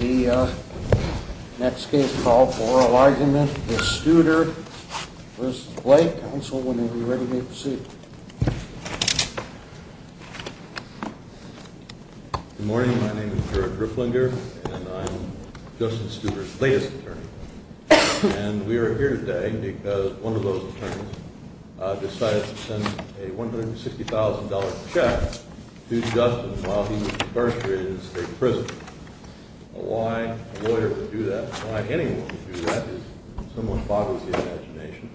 The next case called for enlargement is Studer v. Blake. Counsel, when you'll be ready to make the suit. Good morning. My name is George Ripplinger and I'm Justin Studer's latest attorney. And we are here today because one of those attorneys decided to send a $160,000 check to Justin while he was incarcerated in state prison. Why a lawyer would do that, why anyone would do that is somewhat boggles the imagination.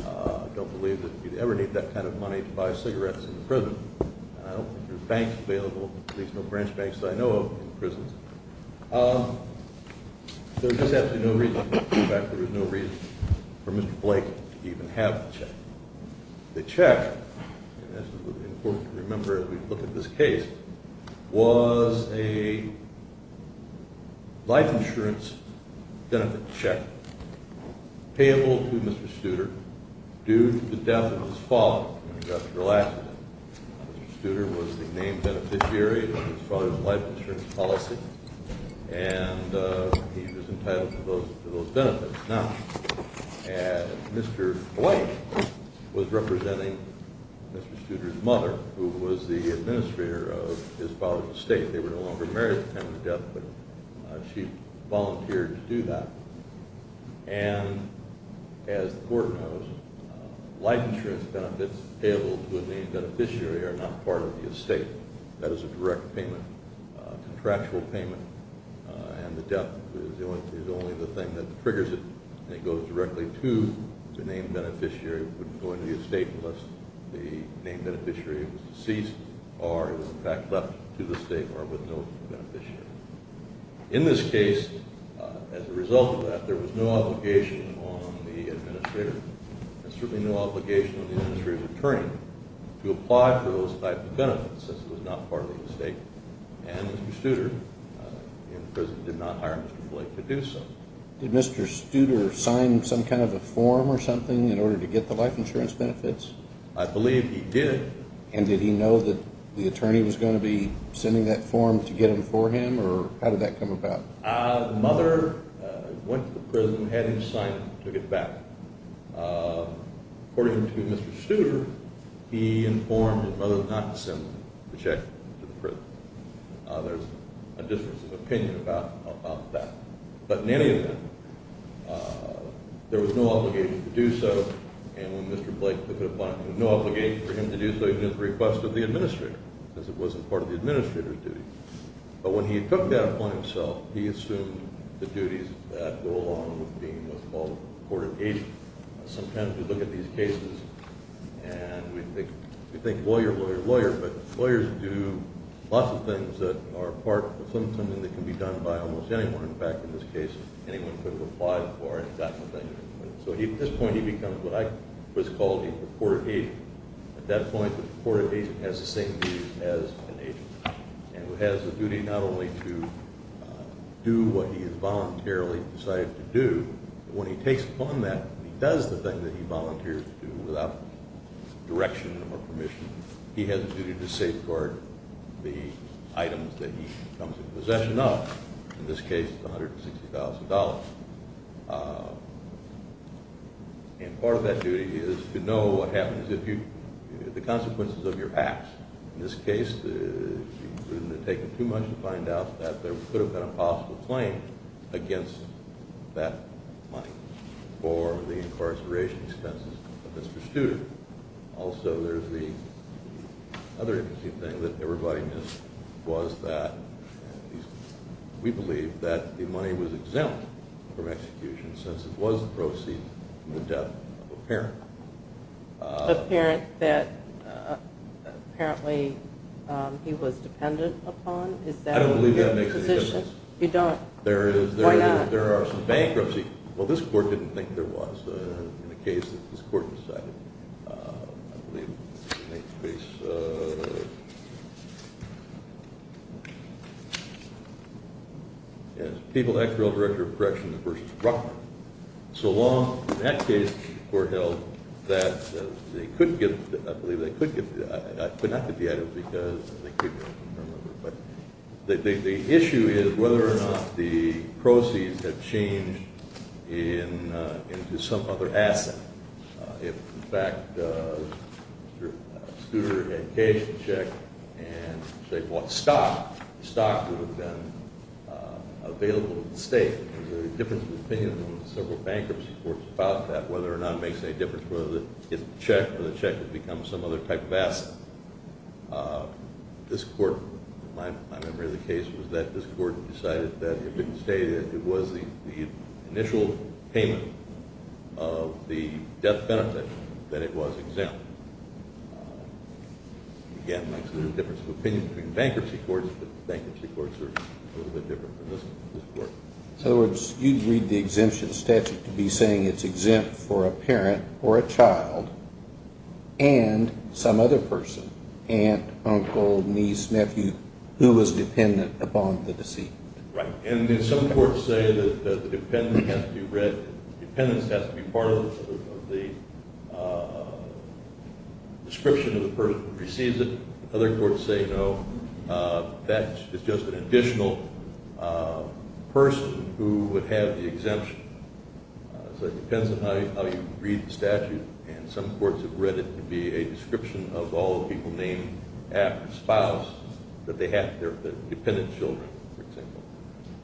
I don't believe that you'd ever need that kind of money to buy cigarettes in prison. I don't think there are banks available, at least no branch banks that I know of in prisons. There is absolutely no reason for Mr. Blake to even have the check. The check, and this is important to remember as we look at this case, was a life insurance benefit check payable to Mr. Studer due to the death of his father. Mr. Studer was the named beneficiary of his father's life insurance policy and he was entitled to those benefits. Now, Mr. Blake was representing Mr. Studer's mother who was the administrator of his father's estate. They were no longer married at the time of his death, but she volunteered to do that. And as the court knows, life insurance benefits payable to a named beneficiary are not part of the estate. That is a direct payment, a contractual payment, and the death is only the thing that triggers it. It goes directly to the named beneficiary. It wouldn't go into the estate unless the named beneficiary was deceased or is in fact left to the state or with no beneficiary. In this case, as a result of that, there was no obligation on the administrator and certainly no obligation on the administrator's attorney to apply for those types of benefits since it was not part of the estate. And Mr. Studer in prison did not hire Mr. Blake to do so. Did Mr. Studer sign some kind of a form or something in order to get the life insurance benefits? I believe he did. And did he know that the attorney was going to be sending that form to get them for him, or how did that come about? The mother went to the prison, had him sign it, and took it back. According to Mr. Studer, he informed his mother not to send the check to the prison. There's a difference of opinion about that. But in any event, there was no obligation to do so. And when Mr. Blake took it upon him, there was no obligation for him to do so even at the request of the administrator since it wasn't part of the administrator's duty. But when he took that upon himself, he assumed the duties that go along with being what's called a court of agent. Sometimes we look at these cases and we think lawyer, lawyer, lawyer, but lawyers do lots of things that are part of something that can be done by almost anyone. In fact, in this case, anyone could have applied for it and gotten the thing. So at this point, he becomes what I always called a court of agent. At that point, the court of agent has the same duties as an agent, and has the duty not only to do what he has voluntarily decided to do, but when he takes upon that, he does the thing that he volunteers to do without direction or permission. He has the duty to safeguard the items that he comes in possession of. In this case, it's $160,000. And part of that duty is to know what happens if you – the consequences of your acts. In this case, it would have taken too much to find out that there could have been a possible claim against that money for the incarceration expenses of Mr. Studer. Also, there's the other interesting thing that everybody missed was that we believe that the money was exempt from execution since it was a proceed from the death of a parent. A parent that apparently he was dependent upon? I don't believe that makes any sense. You don't? Why not? There are some bankruptcies. Well, this court didn't think there was. In the case, this court decided, I believe, in this case, People Act Bureau Director of Corrections v. Brockman. So long, in that case, the court held that they could get – I believe they could get – could not get the items because they couldn't remember. But the issue is whether or not the proceeds have changed into some other asset. If, in fact, Mr. Studer had cashed the check and bought stock, the stock would have been available to the state. There's a difference of opinion among several bankruptcy courts about that, whether or not it makes any difference whether it's the check or the check has become some other type of asset. This court – my memory of the case was that this court decided that it didn't say that it was the initial payment of the death benefit that it was exempt. Again, there's a difference of opinion between bankruptcy courts, but bankruptcy courts are a little bit different from this court. In other words, you'd read the exemption statute to be saying it's exempt for a parent or a child and some other person – aunt, uncle, niece, nephew – who was dependent upon the deceit. Right. And some courts say that the dependence has to be read – dependence has to be part of the description of the person who receives it. Other courts say, no, that is just an additional person who would have the exemption. So it depends on how you read the statute, and some courts have read it to be a description of all the people named after spouse that they have – their dependent children, for example.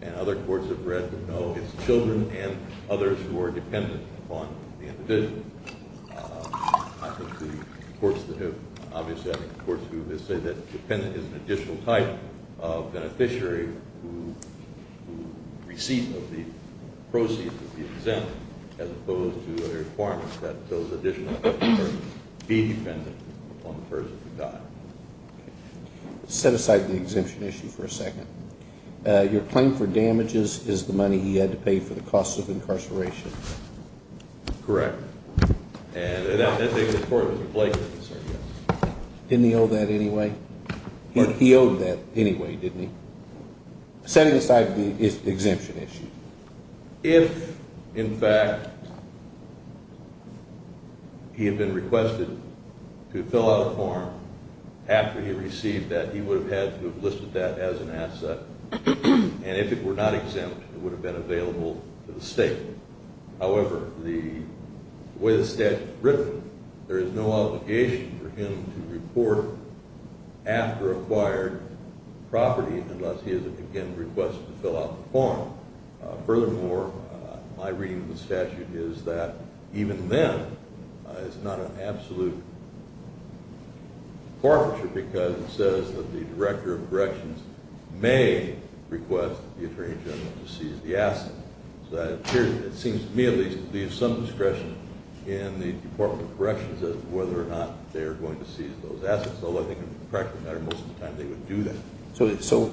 And other courts have read that, no, it's children and others who are dependent upon the individual. I think the courts that have – obviously, I think the courts who say that dependent is an additional type of beneficiary who receives the proceeds of the exemption, as opposed to a requirement that those additional persons be dependent upon the person who died. Okay. Set aside the exemption issue for a second. Your claim for damages is the money he had to pay for the cost of incarceration. Correct. And I think the court would replace it and say yes. Didn't he owe that anyway? He owed that anyway, didn't he? Set aside the exemption issue. If, in fact, he had been requested to fill out a form after he received that, he would have had to have listed that as an asset. And if it were not exempt, it would have been available to the state. However, the way the statute is written, there is no obligation for him to report after acquired property unless he is, again, requested to fill out the form. Furthermore, my reading of the statute is that even then, it's not an absolute forfeiture because it says that the Director of Corrections may request the Attorney General to seize the asset. So that appears – it seems to me at least – to leave some discretion in the Department of Corrections as to whether or not they are going to seize those assets, although I think in the practical matter most of the time they would do that. So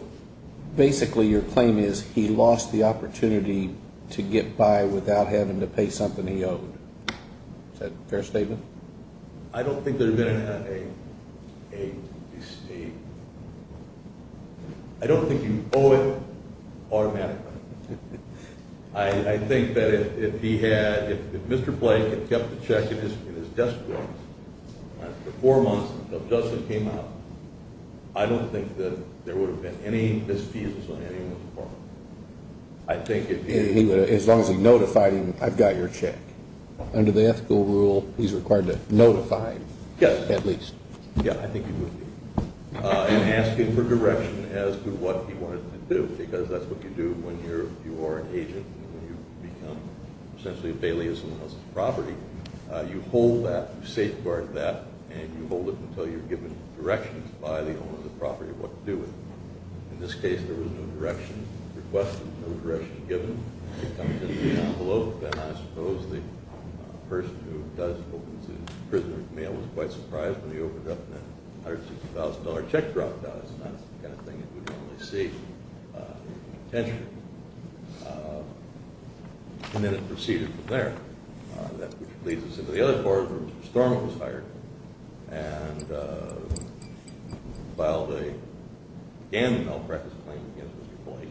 basically your claim is he lost the opportunity to get by without having to pay something he owed. Is that a fair statement? I don't think there would have been a – I don't think you owe it automatically. I think that if he had – if Mr. Blake had kept the check in his desk drawer after four months of justice came out, I don't think that there would have been any misfeasance on anyone's part. I think if he – As long as he notified him, I've got your check. Under the ethical rule, he's required to notify him at least. Yeah, I think he would be. In asking for direction as to what he wanted to do, because that's what you do when you are an agent and when you become essentially a bailiff's property, you hold that, you safeguard that, and you hold it until you're given directions by the owner of the property of what to do with it. In this case, there was no direction requested, no direction given. It comes in the envelope, and I suppose the person who does open the prisoner's mail was quite surprised when he opened it up and that $160,000 check dropped out. It's not the kind of thing you would normally see potentially. And then it proceeded from there, which leads us into the other part where Mr. Storm was hired and filed a – began an all-practice claim against Mr. Blake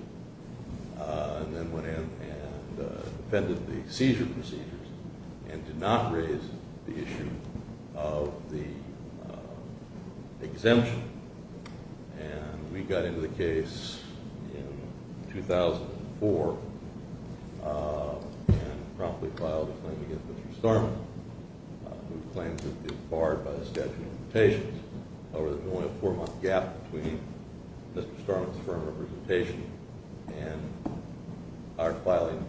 and then went in and defended the seizure procedures and did not raise the issue of the exemption. And we got into the case in 2004 and promptly filed a claim against Mr. Storm, whose claims have been barred by the statute of limitations. However, there's only a four-month gap between Mr. Storm's firm representation and our filing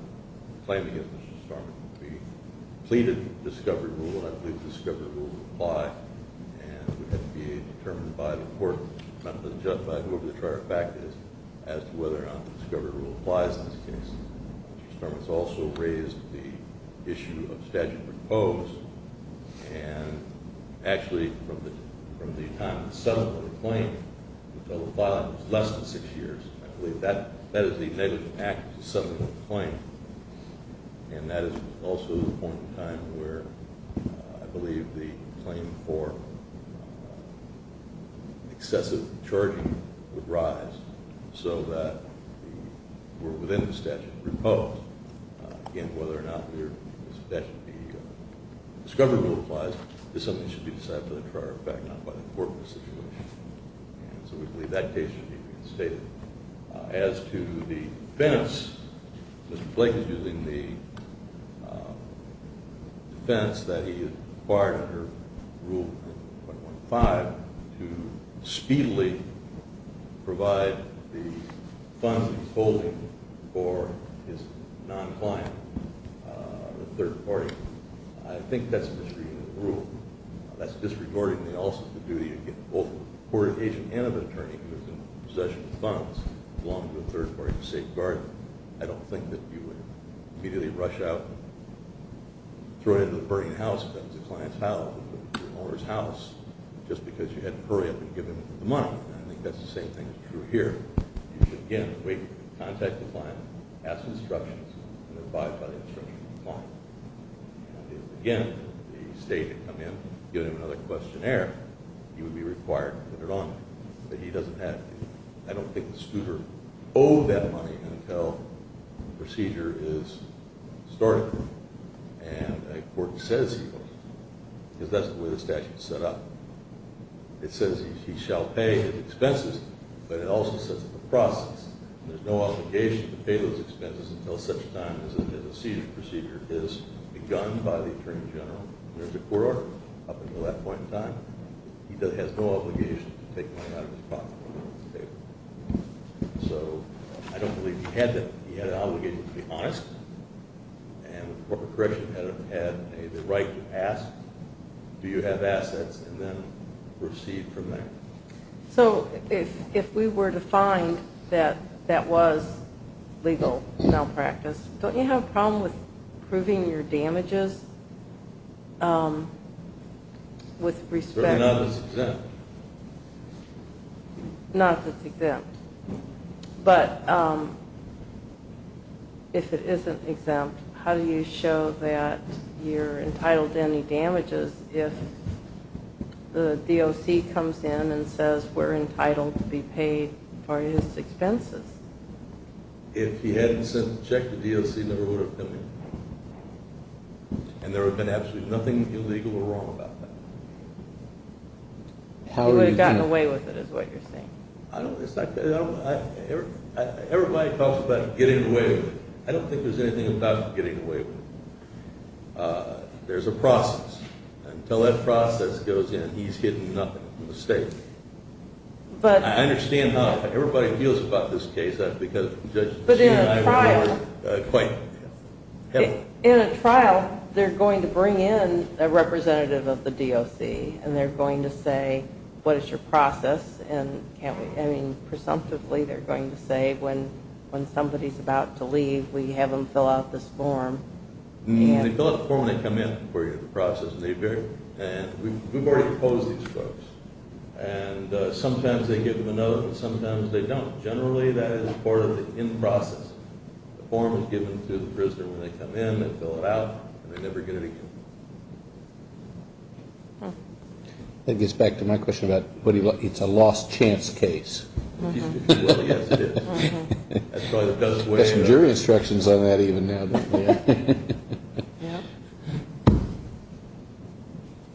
claim against Mr. Storm. We pleaded the discovery rule, and I believe the discovery rule applies, and it had to be determined by the court, not just by whoever the charge of fact is, as to whether or not the discovery rule applies in this case. Mr. Storm has also raised the issue of statute of proposed, and actually, from the time of the settlement of the claim, until the filing was less than six years, I believe that is the negative impact of the settlement of the claim. And that is also the point in time where I believe the claim for excessive charging would rise, so that we're within the statute of proposed. Again, whether or not the statute of the discovery rule applies is something that should be decided by the trier of fact, not by the court in this situation. And so we believe that case should be reinstated. As to the defense, Mr. Blake is using the defense that he acquired under Rule 215 to speedily provide the funds he's holding for his non-client, the third party. I think that's a misreading of the rule. That's disregarding also the duty of both the court agent and of an attorney who is in possession of funds, along with the third party to safeguard them. I don't think that you would immediately rush out and throw it into the burning house, if that was the client's house or the owner's house, just because you had to hurry up and give him the money. I think that's the same thing that's true here. You should, again, wait for the contact of the client, ask for instructions, and abide by the instructions of the client. Again, if the state had come in and given him another questionnaire, he would be required to put it on. But he doesn't have to. I don't think the scooter owed that money until the procedure is started. And a court says he owes it, because that's the way the statute is set up. It says he shall pay his expenses, but it also says the process. There's no obligation to pay those expenses until such time as the seizure procedure is begun by the attorney general. There's a court order up until that point in time. He has no obligation to take money out of his pocket. So I don't believe he had that. He had an obligation to be honest, and the corporate correction had the right to ask, do you have assets, and then proceed from there. So if we were to find that that was legal malpractice, don't you have a problem with proving your damages with respect? Proven not that it's exempt. But if it isn't exempt, how do you show that you're entitled to any damages if the DOC comes in and says we're entitled to be paid for his expenses? If he hadn't sent a check to the DOC, he never would have done it. And there would have been absolutely nothing illegal or wrong about that. He would have gotten away with it is what you're saying. Everybody talks about getting away with it. I don't think there's anything about getting away with it. There's a process. Until that process goes in, he's hidden nothing from the state. I understand how everybody feels about this case. But in a trial, they're going to bring in a representative of the DOC, and they're going to say, what is your process? Presumptively, they're going to say, when somebody's about to leave, we have them fill out this form. They fill out the form when they come in for the process. And we've already opposed these folks. And sometimes they give them a note and sometimes they don't. Generally, that is part of the end process. The form is given to the prisoner when they come in. They fill it out, and they never get anything. That gets back to my question about it's a lost chance case. Well, yes, it is. That's probably the best way. There's some jury instructions on that even now.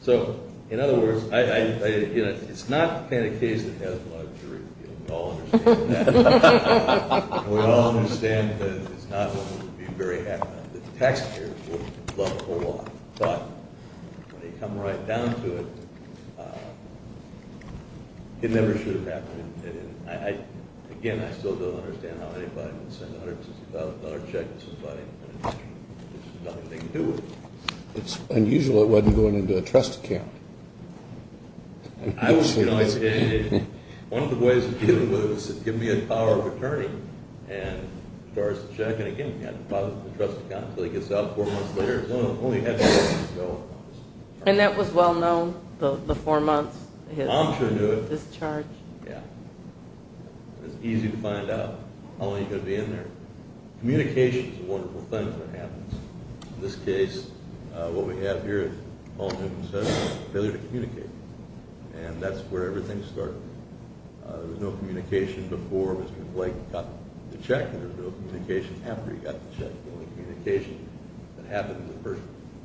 So, in other words, it's not the kind of case that has a lot of jury appeal. We all understand that. It's not one we would be very happy about. The taxpayers would love a whole lot. But when they come right down to it, it never should have happened. And, again, I still don't understand how anybody would send a $160,000 check to somebody when there's nothing they can do with it. It's unusual it wasn't going into a trust account. I was going to say, one of the ways to deal with it was to give me a power of attorney and charge the check. And, again, you've got to deposit it in the trust account until he gets out. Four months later, it's only a half an hour to go. And that was well known, the four months, his discharge? I'm sure he knew it. Yeah. It's easy to find out how long you're going to be in there. Communication is a wonderful thing when it happens. In this case, what we have here, Paul Newman says, is failure to communicate. And that's where everything started. There was no communication before Mr. Blake got the check, and there was no communication after he got the check. The only communication that happened, the first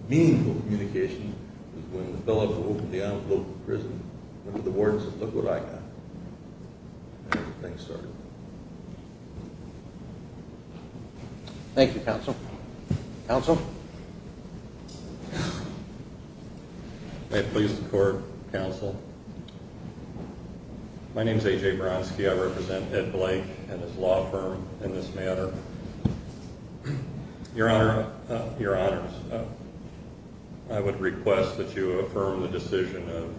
meaningful communication, was when the fellow who opened the envelope at the prison went to the warden and said, look what I got. And that's where things started. Thank you, Counsel. Counsel? May it please the Court, Counsel. My name is A.J. Bronski. I represent Ed Blake and his law firm in this matter. Your Honors, I would request that you affirm the decision of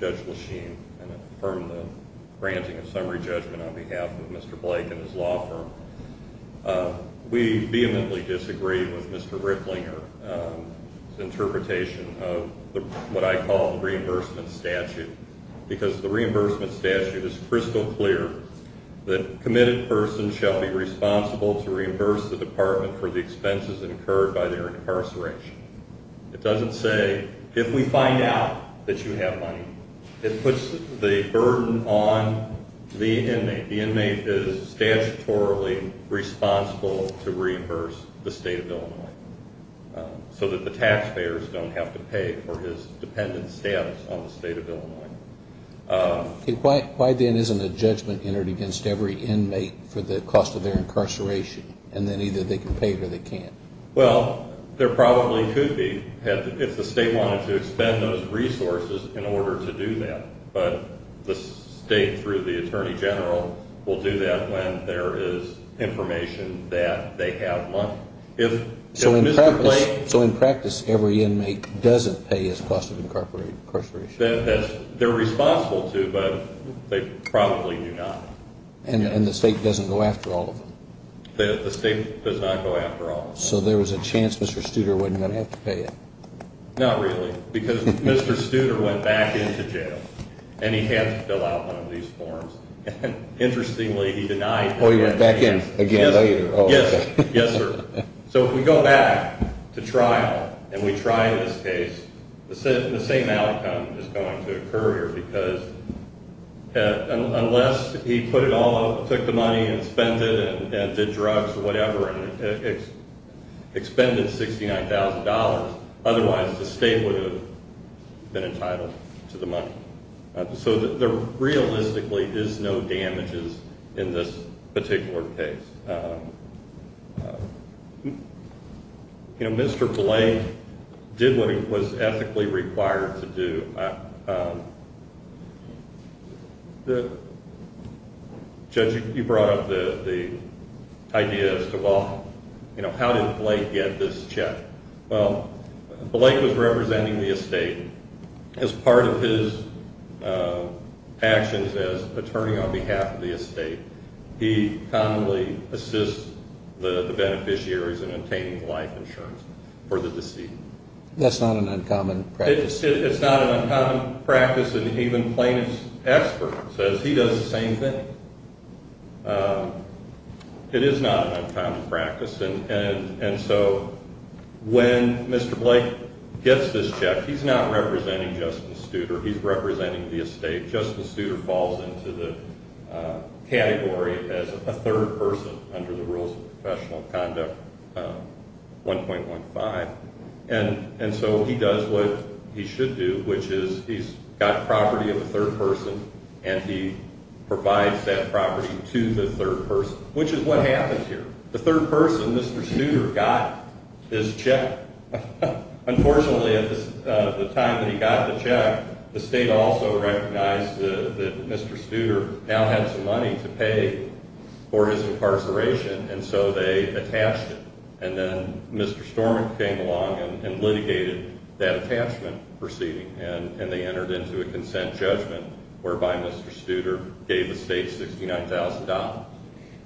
Judge Lachine and affirm the granting of summary judgment on behalf of Mr. Blake and his law firm. We vehemently disagree with Mr. Ricklinger's interpretation of what I call the reimbursement statute because the reimbursement statute is crystal clear that a committed person shall be responsible to reimburse the department for the expenses incurred by their incarceration. It doesn't say if we find out that you have money. It puts the burden on the inmate. The inmate is statutorily responsible to reimburse the State of Illinois so that the taxpayers don't have to pay for his dependent status on the State of Illinois. Why then isn't a judgment entered against every inmate for the cost of their incarceration and then either they can pay it or they can't? Well, there probably could be if the State wanted to expend those resources in order to do that, but the State through the Attorney General will do that when there is information that they have money. So in practice, every inmate doesn't pay his cost of incarceration? They're responsible to, but they probably do not. And the State doesn't go after all of them? The State does not go after all. So there was a chance Mr. Studer wasn't going to have to pay it? Not really because Mr. Studer went back into jail and he had to fill out one of these forms. Interestingly, he denied that. Oh, he went back in again later? Yes, sir. So if we go back to trial and we try this case, the same outcome is going to occur here because unless he took the money and spent it and did drugs or whatever and expended $69,000, otherwise the State would have been entitled to the money. So there realistically is no damages in this particular case. You know, Mr. Blake did what he was ethically required to do. Judge, you brought up the idea as to, well, you know, how did Blake get this check? Well, Blake was representing the Estate as part of his actions as attorney on behalf of the Estate. He commonly assists the beneficiaries in obtaining life insurance for the deceased. That's not an uncommon practice. It's not an uncommon practice, and even plaintiff's expert says he does the same thing. It is not an uncommon practice. And so when Mr. Blake gets this check, he's not representing Justice Studer. He's representing the Estate. Justice Studer falls into the category as a third person under the Rules of Professional Conduct 1.15. And so he does what he should do, which is he's got property of a third person, and he provides that property to the third person, which is what happens here. The third person, Mr. Studer, got his check. Unfortunately, at the time that he got the check, the State also recognized that Mr. Studer now had some money to pay for his incarceration, and so they attached it. And then Mr. Storm came along and litigated that attachment proceeding, and they entered into a consent judgment whereby Mr. Studer gave the State $69,000.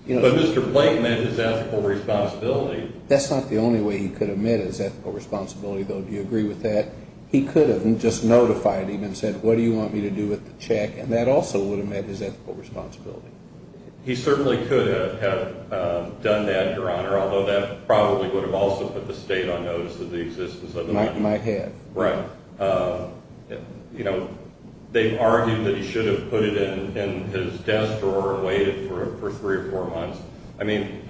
But Mr. Blake met his ethical responsibility. That's not the only way he could have met his ethical responsibility, though. Do you agree with that? He could have just notified him and said, What do you want me to do with the check? And that also would have met his ethical responsibility. He certainly could have done that, Your Honor, although that probably would have also put the State on notice of the existence of the money. Might have. Right. You know, they've argued that he should have put it in his desk or waited for three or four months. I mean,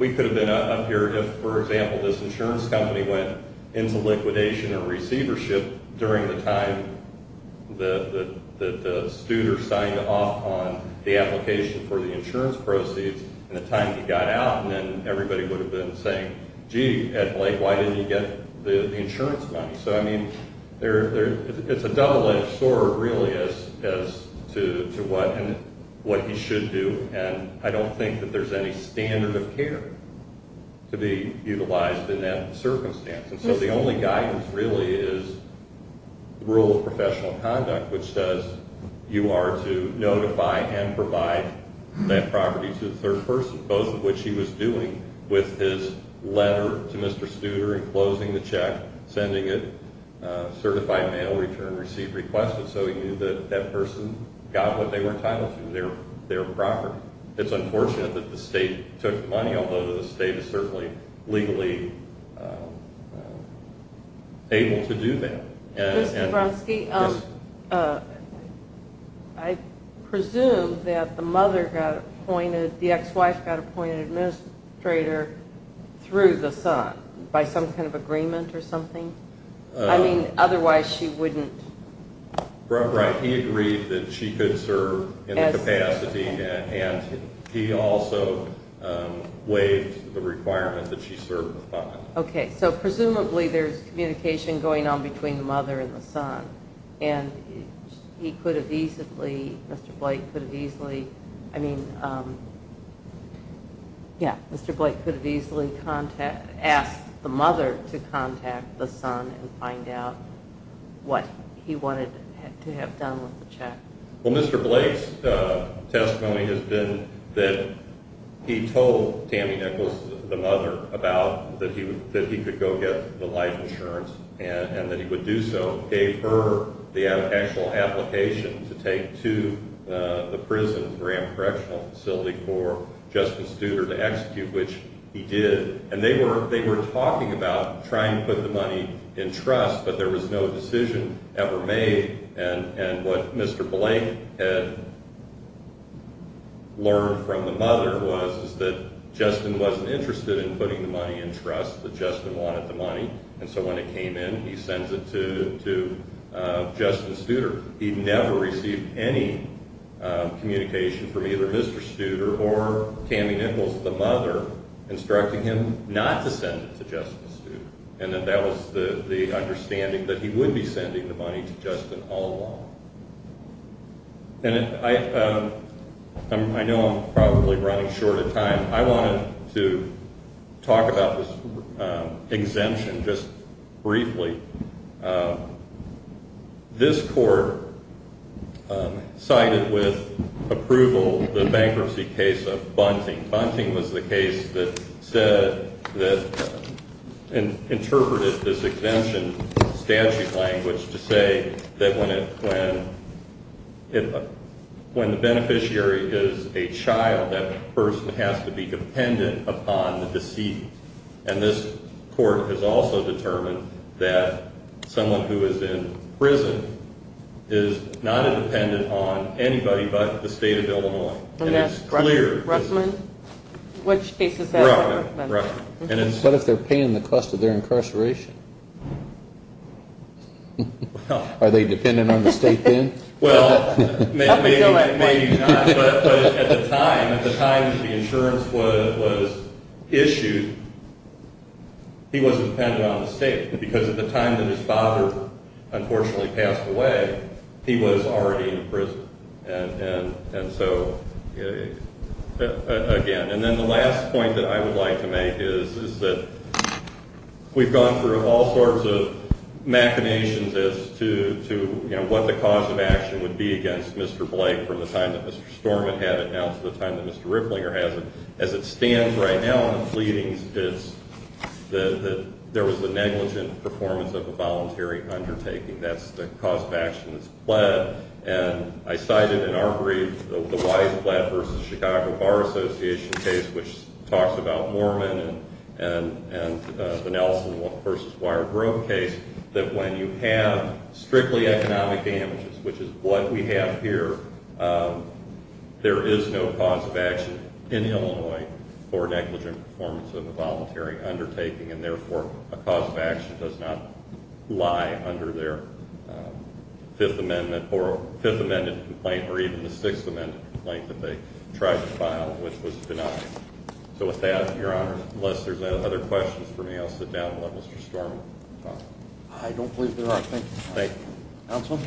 we could have been up here if, for example, this insurance company went into liquidation or receivership during the time that Studer signed off on the application for the insurance proceeds and the time he got out, and then everybody would have been saying, Gee, Ed Blake, why didn't you get the insurance money? So, I mean, it's a double-edged sword, really, as to what he should do, and I don't think that there's any standard of care to be utilized in that circumstance. And so the only guidance, really, is the rule of professional conduct, which says you are to notify and provide that property to the third person, both of which he was doing with his letter to Mr. Studer and closing the check, sending it, certify mail return, receive request, and so he knew that that person got what they were entitled to, their property. It's unfortunate that the state took the money, although the state is certainly legally able to do that. Mr. Bronski, I presume that the mother got appointed, the ex-wife got appointed administrator through the son, by some kind of agreement or something? I mean, otherwise she wouldn't? Right, he agreed that she could serve in the capacity, and he also waived the requirement that she serve with the father. Okay, so presumably there's communication going on between the mother and the son, and he could have easily, Mr. Blake could have easily, I mean, yeah, Mr. Blake could have easily asked the mother to contact the son and find out what he wanted to have done with the check. Well, Mr. Blake's testimony has been that he told Tammy Nichols, the mother, that he could go get the life insurance and that he would do so, gave her the actual application to take to the prison's ramp correctional facility for Justin Studer to execute, which he did. And they were talking about trying to put the money in trust, but there was no decision ever made, and what Mr. Blake had learned from the mother was that Justin wasn't interested in putting the money in trust, that Justin wanted the money, and so when it came in, he sends it to Justin Studer. He never received any communication from either Mr. Studer or Tammy Nichols, the mother, instructing him not to send it to Justin Studer, and that was the understanding that he would be sending the money to Justin all along. And I know I'm probably running short of time. I wanted to talk about this exemption just briefly. This court cited with approval the bankruptcy case of Bunting. Bunting was the case that interpreted this exemption statute language to say that when the beneficiary is a child, that person has to be dependent upon the deceased, and this court has also determined that someone who is in prison is not independent on anybody but the state of Illinois. And it's clear. Which case is that? What if they're paying the cost of their incarceration? Are they dependent on the state then? Well, maybe not, but at the time that the insurance was issued, he was dependent on the state because at the time that his father unfortunately passed away, he was already in prison. And so, again, and then the last point that I would like to make is that we've gone through all sorts of machinations as to what the cause of action would be against Mr. Blake from the time that Mr. Storman had it down to the time that Mr. Rifflinger has it. As it stands right now in the pleadings, there was the negligent performance of a voluntary undertaking. That's the cause of action that's pled. And I cited in our brief the Wise-Blatt v. Chicago Bar Association case, which talks about Moorman and the Nelson v. Wire Grove case, that when you have strictly economic damages, which is what we have here, there is no cause of action in Illinois for negligent performance of a voluntary undertaking and therefore a cause of action does not lie under their Fifth Amendment or Fifth Amendment complaint or even the Sixth Amendment complaint that they tried to file, which was denied. So with that, Your Honor, unless there's any other questions for me, I'll sit down and let Mr. Storman talk. I don't believe there are. Thank you. Thank you. Counsel?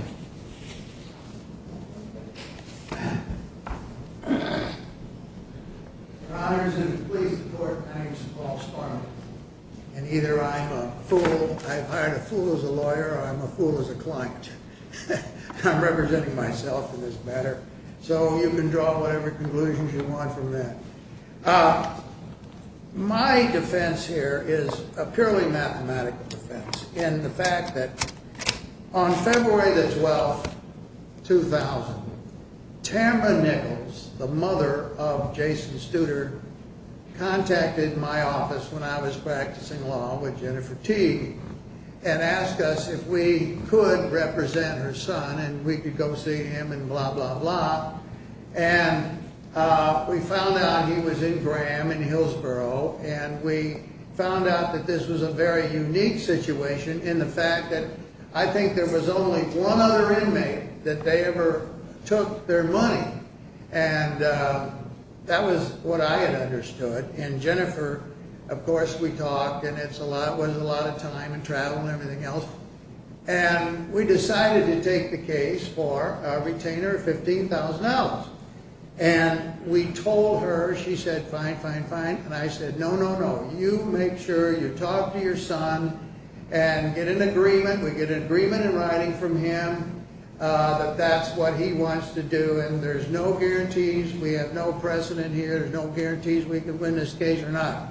Your Honors, it is a pleas to the Court. Thanks to Paul Storman. And either I'm a fool, I've hired a fool as a lawyer, or I'm a fool as a client. I'm representing myself in this matter, so you can draw whatever conclusions you want from that. My defense here is a purely mathematical defense in the fact that on February the 12th, 2000, Tamra Nichols, the mother of Jason Studer, contacted my office when I was practicing law with Jennifer Teague and asked us if we could represent her son and we could go see him and blah, blah, blah. And we found out he was in Graham in Hillsboro, and we found out that this was a very unique situation in the fact that I think there was only one other inmate that they ever took their money. And that was what I had understood. And Jennifer, of course, we talked, and it was a lot of time and travel and everything else. And we decided to take the case for a retainer of $15,000. And we told her, she said, fine, fine, fine. And I said, no, no, no. You make sure you talk to your son and get an agreement. We get an agreement in writing from him that that's what he wants to do. And there's no guarantees. We have no precedent here. There's no guarantees we can win this case or not.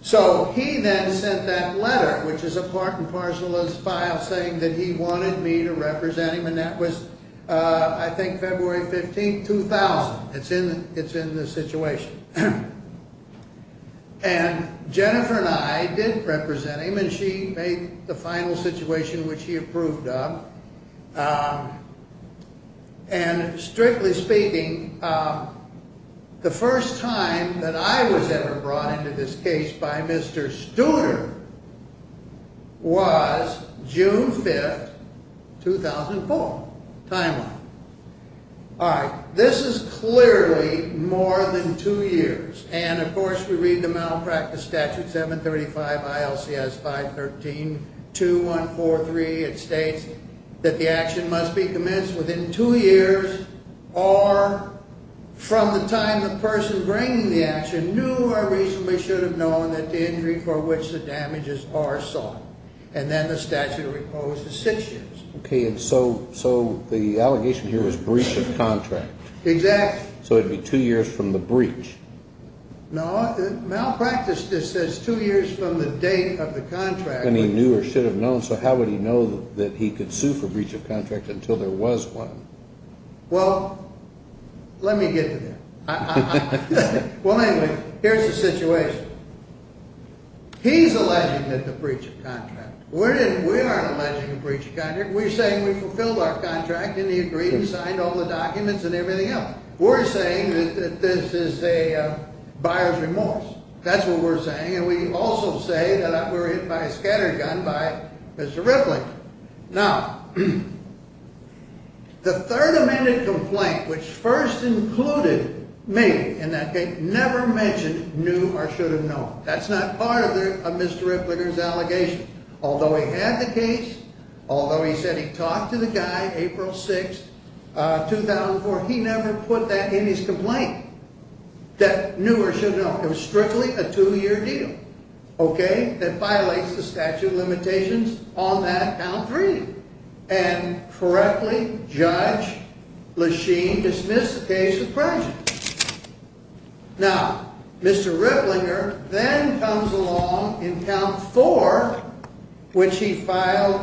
So he then sent that letter, which is a part and parcel of his file, saying that he wanted me to represent him. And that was, I think, February 15, 2000. It's in the situation. And Jennifer and I did represent him, and she made the final situation, which he approved of. And strictly speaking, the first time that I was ever brought into this case by Mr. Studer was June 5, 2004, timeline. All right. This is clearly more than two years. And, of course, we read the malpractice statute, 735 ILCS 513-2143. It states that the action must be commenced within two years or from the time the person bringing the action knew or reasonably should have known that the injury for which the damages are sought. And then the statute of repose is six years. Okay. And so the allegation here is breach of contract. Exactly. So it would be two years from the breach. No. Malpractice just says two years from the date of the contract. And he knew or should have known, so how would he know that he could sue for breach of contract until there was one? Well, let me get to that. Well, anyway, here's the situation. He's alleging that the breach of contract. We aren't alleging a breach of contract. We're saying we fulfilled our contract, and he agreed and signed all the documents and everything else. We're saying that this is a buyer's remorse. That's what we're saying. And we also say that we were hit by a scattergun by Mr. Ripley. Now, the Third Amendment complaint, which first included me in that case, never mentioned knew or should have known. That's not part of Mr. Ripley's allegation. Although he had the case, although he said he talked to the guy April 6th, 2004, he never put that in his complaint, that knew or should have known. It was strictly a two-year deal, okay, that violates the statute of limitations on that count three. And correctly, Judge Lesheen dismissed the case of prejudice. Now, Mr. Riplinger then comes along in count four, which he filed,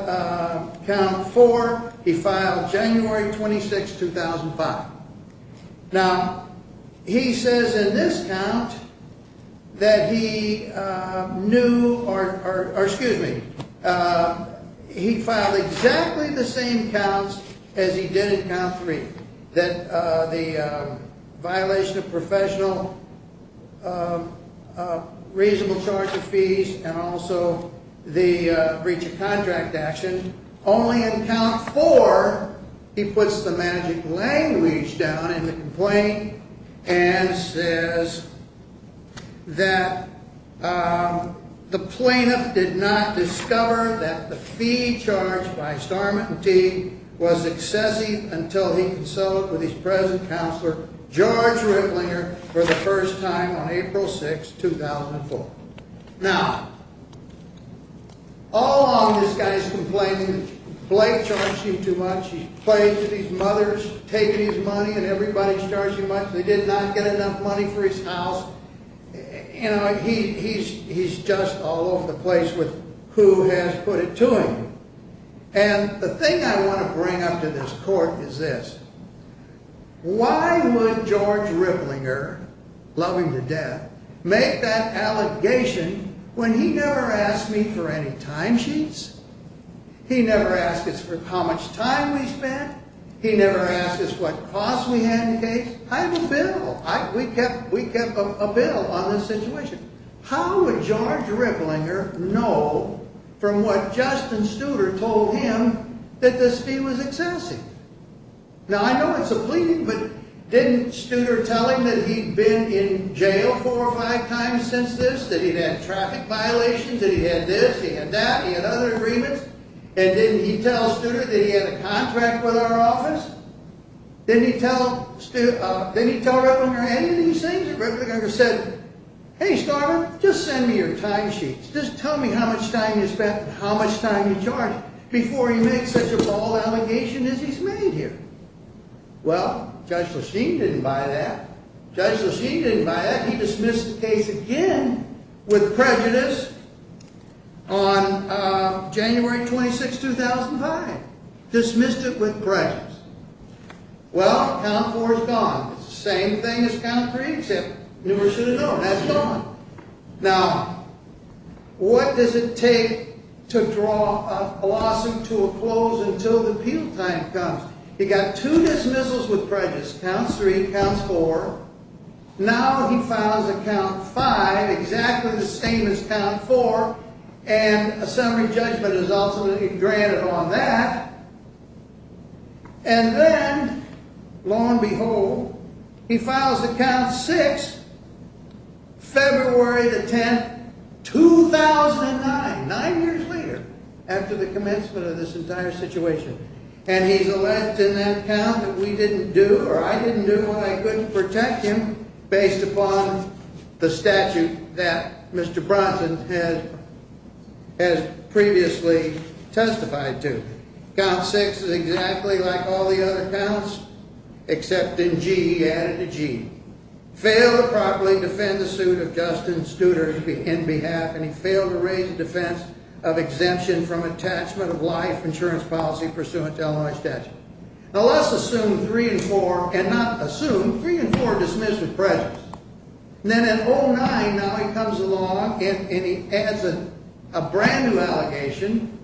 count four, he filed January 26th, 2005. Now, he says in this count that he knew or, excuse me, he filed exactly the same counts as he did in count three. That the violation of professional reasonable charge of fees and also the breach of contract action. Only in count four, he puts the magic language down in the complaint. And says that the plaintiff did not discover that the fee charged by Starment and Teague was excessive until he consulted with his present counselor, George Riplinger, for the first time on April 6th, 2004. Now, all along this guy's complaining that Blake charged him too much, he's plagued with his mother's taking his money and everybody's charging him much. They did not get enough money for his house. You know, he's just all over the place with who has put it to him. And the thing I want to bring up to this court is this. Why would George Riplinger, love him to death, make that allegation when he never asked me for any time sheets? He never asked us for how much time we spent. He never asked us what cost we had in case. I have a bill. We kept a bill on this situation. How would George Riplinger know from what Justin Studer told him that this fee was excessive? Now, I know it's a plea, but didn't Studer tell him that he'd been in jail four or five times since this? That he'd had traffic violations? That he had this, he had that, he had other agreements? And didn't he tell Studer that he had a contract with our office? Didn't he tell Riplinger any of these things? And Riplinger said, hey, Starver, just send me your time sheets. Just tell me how much time you spent and how much time you charged him before he makes such a bald allegation as he's made here. Well, Judge Lacheen didn't buy that. Judge Lacheen didn't buy that. He dismissed the case again with prejudice on January 26, 2005. Dismissed it with prejudice. Well, count four is gone. It's the same thing as count three, except newer should have known. That's gone. Now, what does it take to draw a blossom to a close until the appeal time comes? He got two dismissals with prejudice. Count three, count four. Now he files a count five, exactly the same as count four. And a summary judgment is ultimately granted on that. And then, lo and behold, he files a count six, February the 10th, 2009, nine years later, after the commencement of this entire situation. And he's a left in that count that we didn't do, or I didn't do, and I couldn't protect him based upon the statute that Mr. Bronson has previously testified to. Count six is exactly like all the other counts, except in G. He added a G. Failed to properly defend the suit of Justin Studer in behalf, and he failed to raise the defense of exemption from attachment of life insurance policy pursuant to Illinois statute. Now, let's assume three and four, and not assume, three and four dismissed with prejudice. And then in 09, now he comes along and he adds a brand new allegation.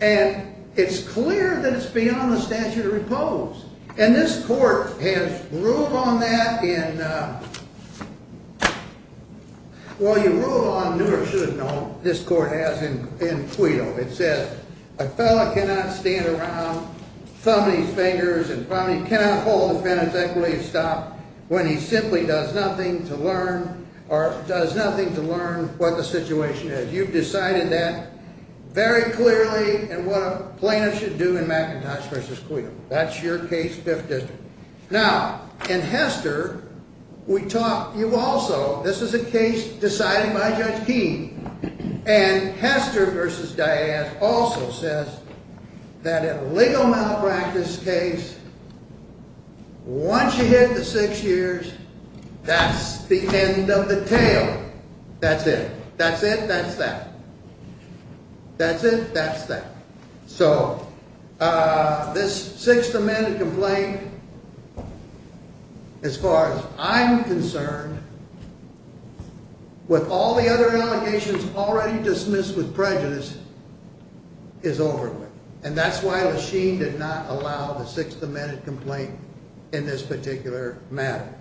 And it's clear that it's beyond the statute of repose. And this court has ruled on that in, well, you ruled on, knew or should have known, this court has in Cuito. It says, a fella cannot stand around thumbing his fingers and cannot hold a defendant's equity to stop when he simply does nothing to learn, or does nothing to learn what the situation is. You've decided that very clearly, and what a plaintiff should do in McIntosh v. Cuito. That's your case, Fifth District. Now, in Hester, we taught you also, this is a case decided by Judge Keene. And Hester v. Diaz also says that a legal malpractice case, once you hit the six years, that's the end of the tale. That's it. That's it, that's that. That's it, that's that. So, this Sixth Amendment complaint, as far as I'm concerned, with all the other allegations already dismissed with prejudice, is over with. And that's why Lachine did not allow the Sixth Amendment complaint in this particular matter.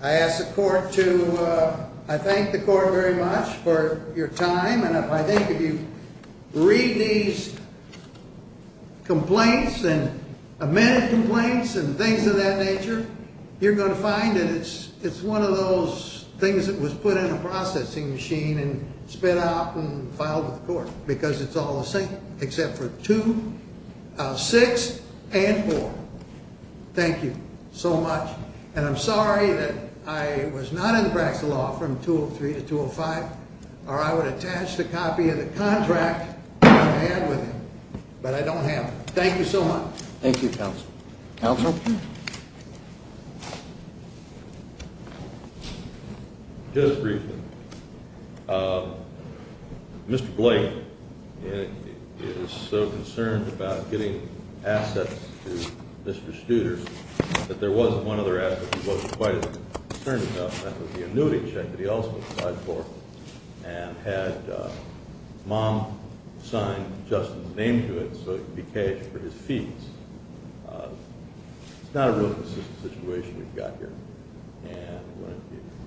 I ask the court to, I thank the court very much for your time. And I think if you read these complaints, and amended complaints, and things of that nature, you're going to find that it's one of those things that was put in a processing machine and spit out and filed with the court. Because it's all the same, except for two, six, and four. Thank you so much. And I'm sorry that I was not in the practice of law from 203 to 205, or I would attach the copy of the contract that I had with him. But I don't have it. Thank you so much. Thank you, counsel. Counsel? Just briefly. Mr. Blake is so concerned about getting assets to Mr. Studer that there was one other asset he wasn't quite concerned about, and that was the annuity check that he also applied for. And had Mom sign Justin's name to it so it would be caged for his fees. It's not a real consistent situation we've got here. And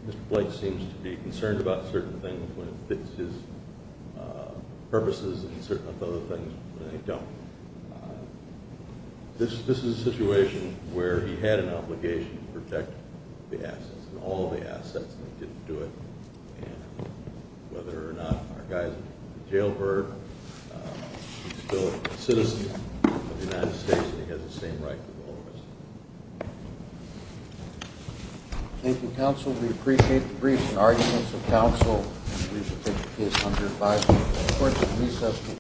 Mr. Blake seems to be concerned about certain things when it fits his purposes, and certain other things when they don't. This is a situation where he had an obligation to protect the assets, and all the assets, and he didn't do it. And whether or not our guy's a jailbird, he's still a citizen of the United States, and he has the same rights as all of us. Thank you, counsel. We appreciate the briefs and arguments of counsel. We appreciate the case under advisement.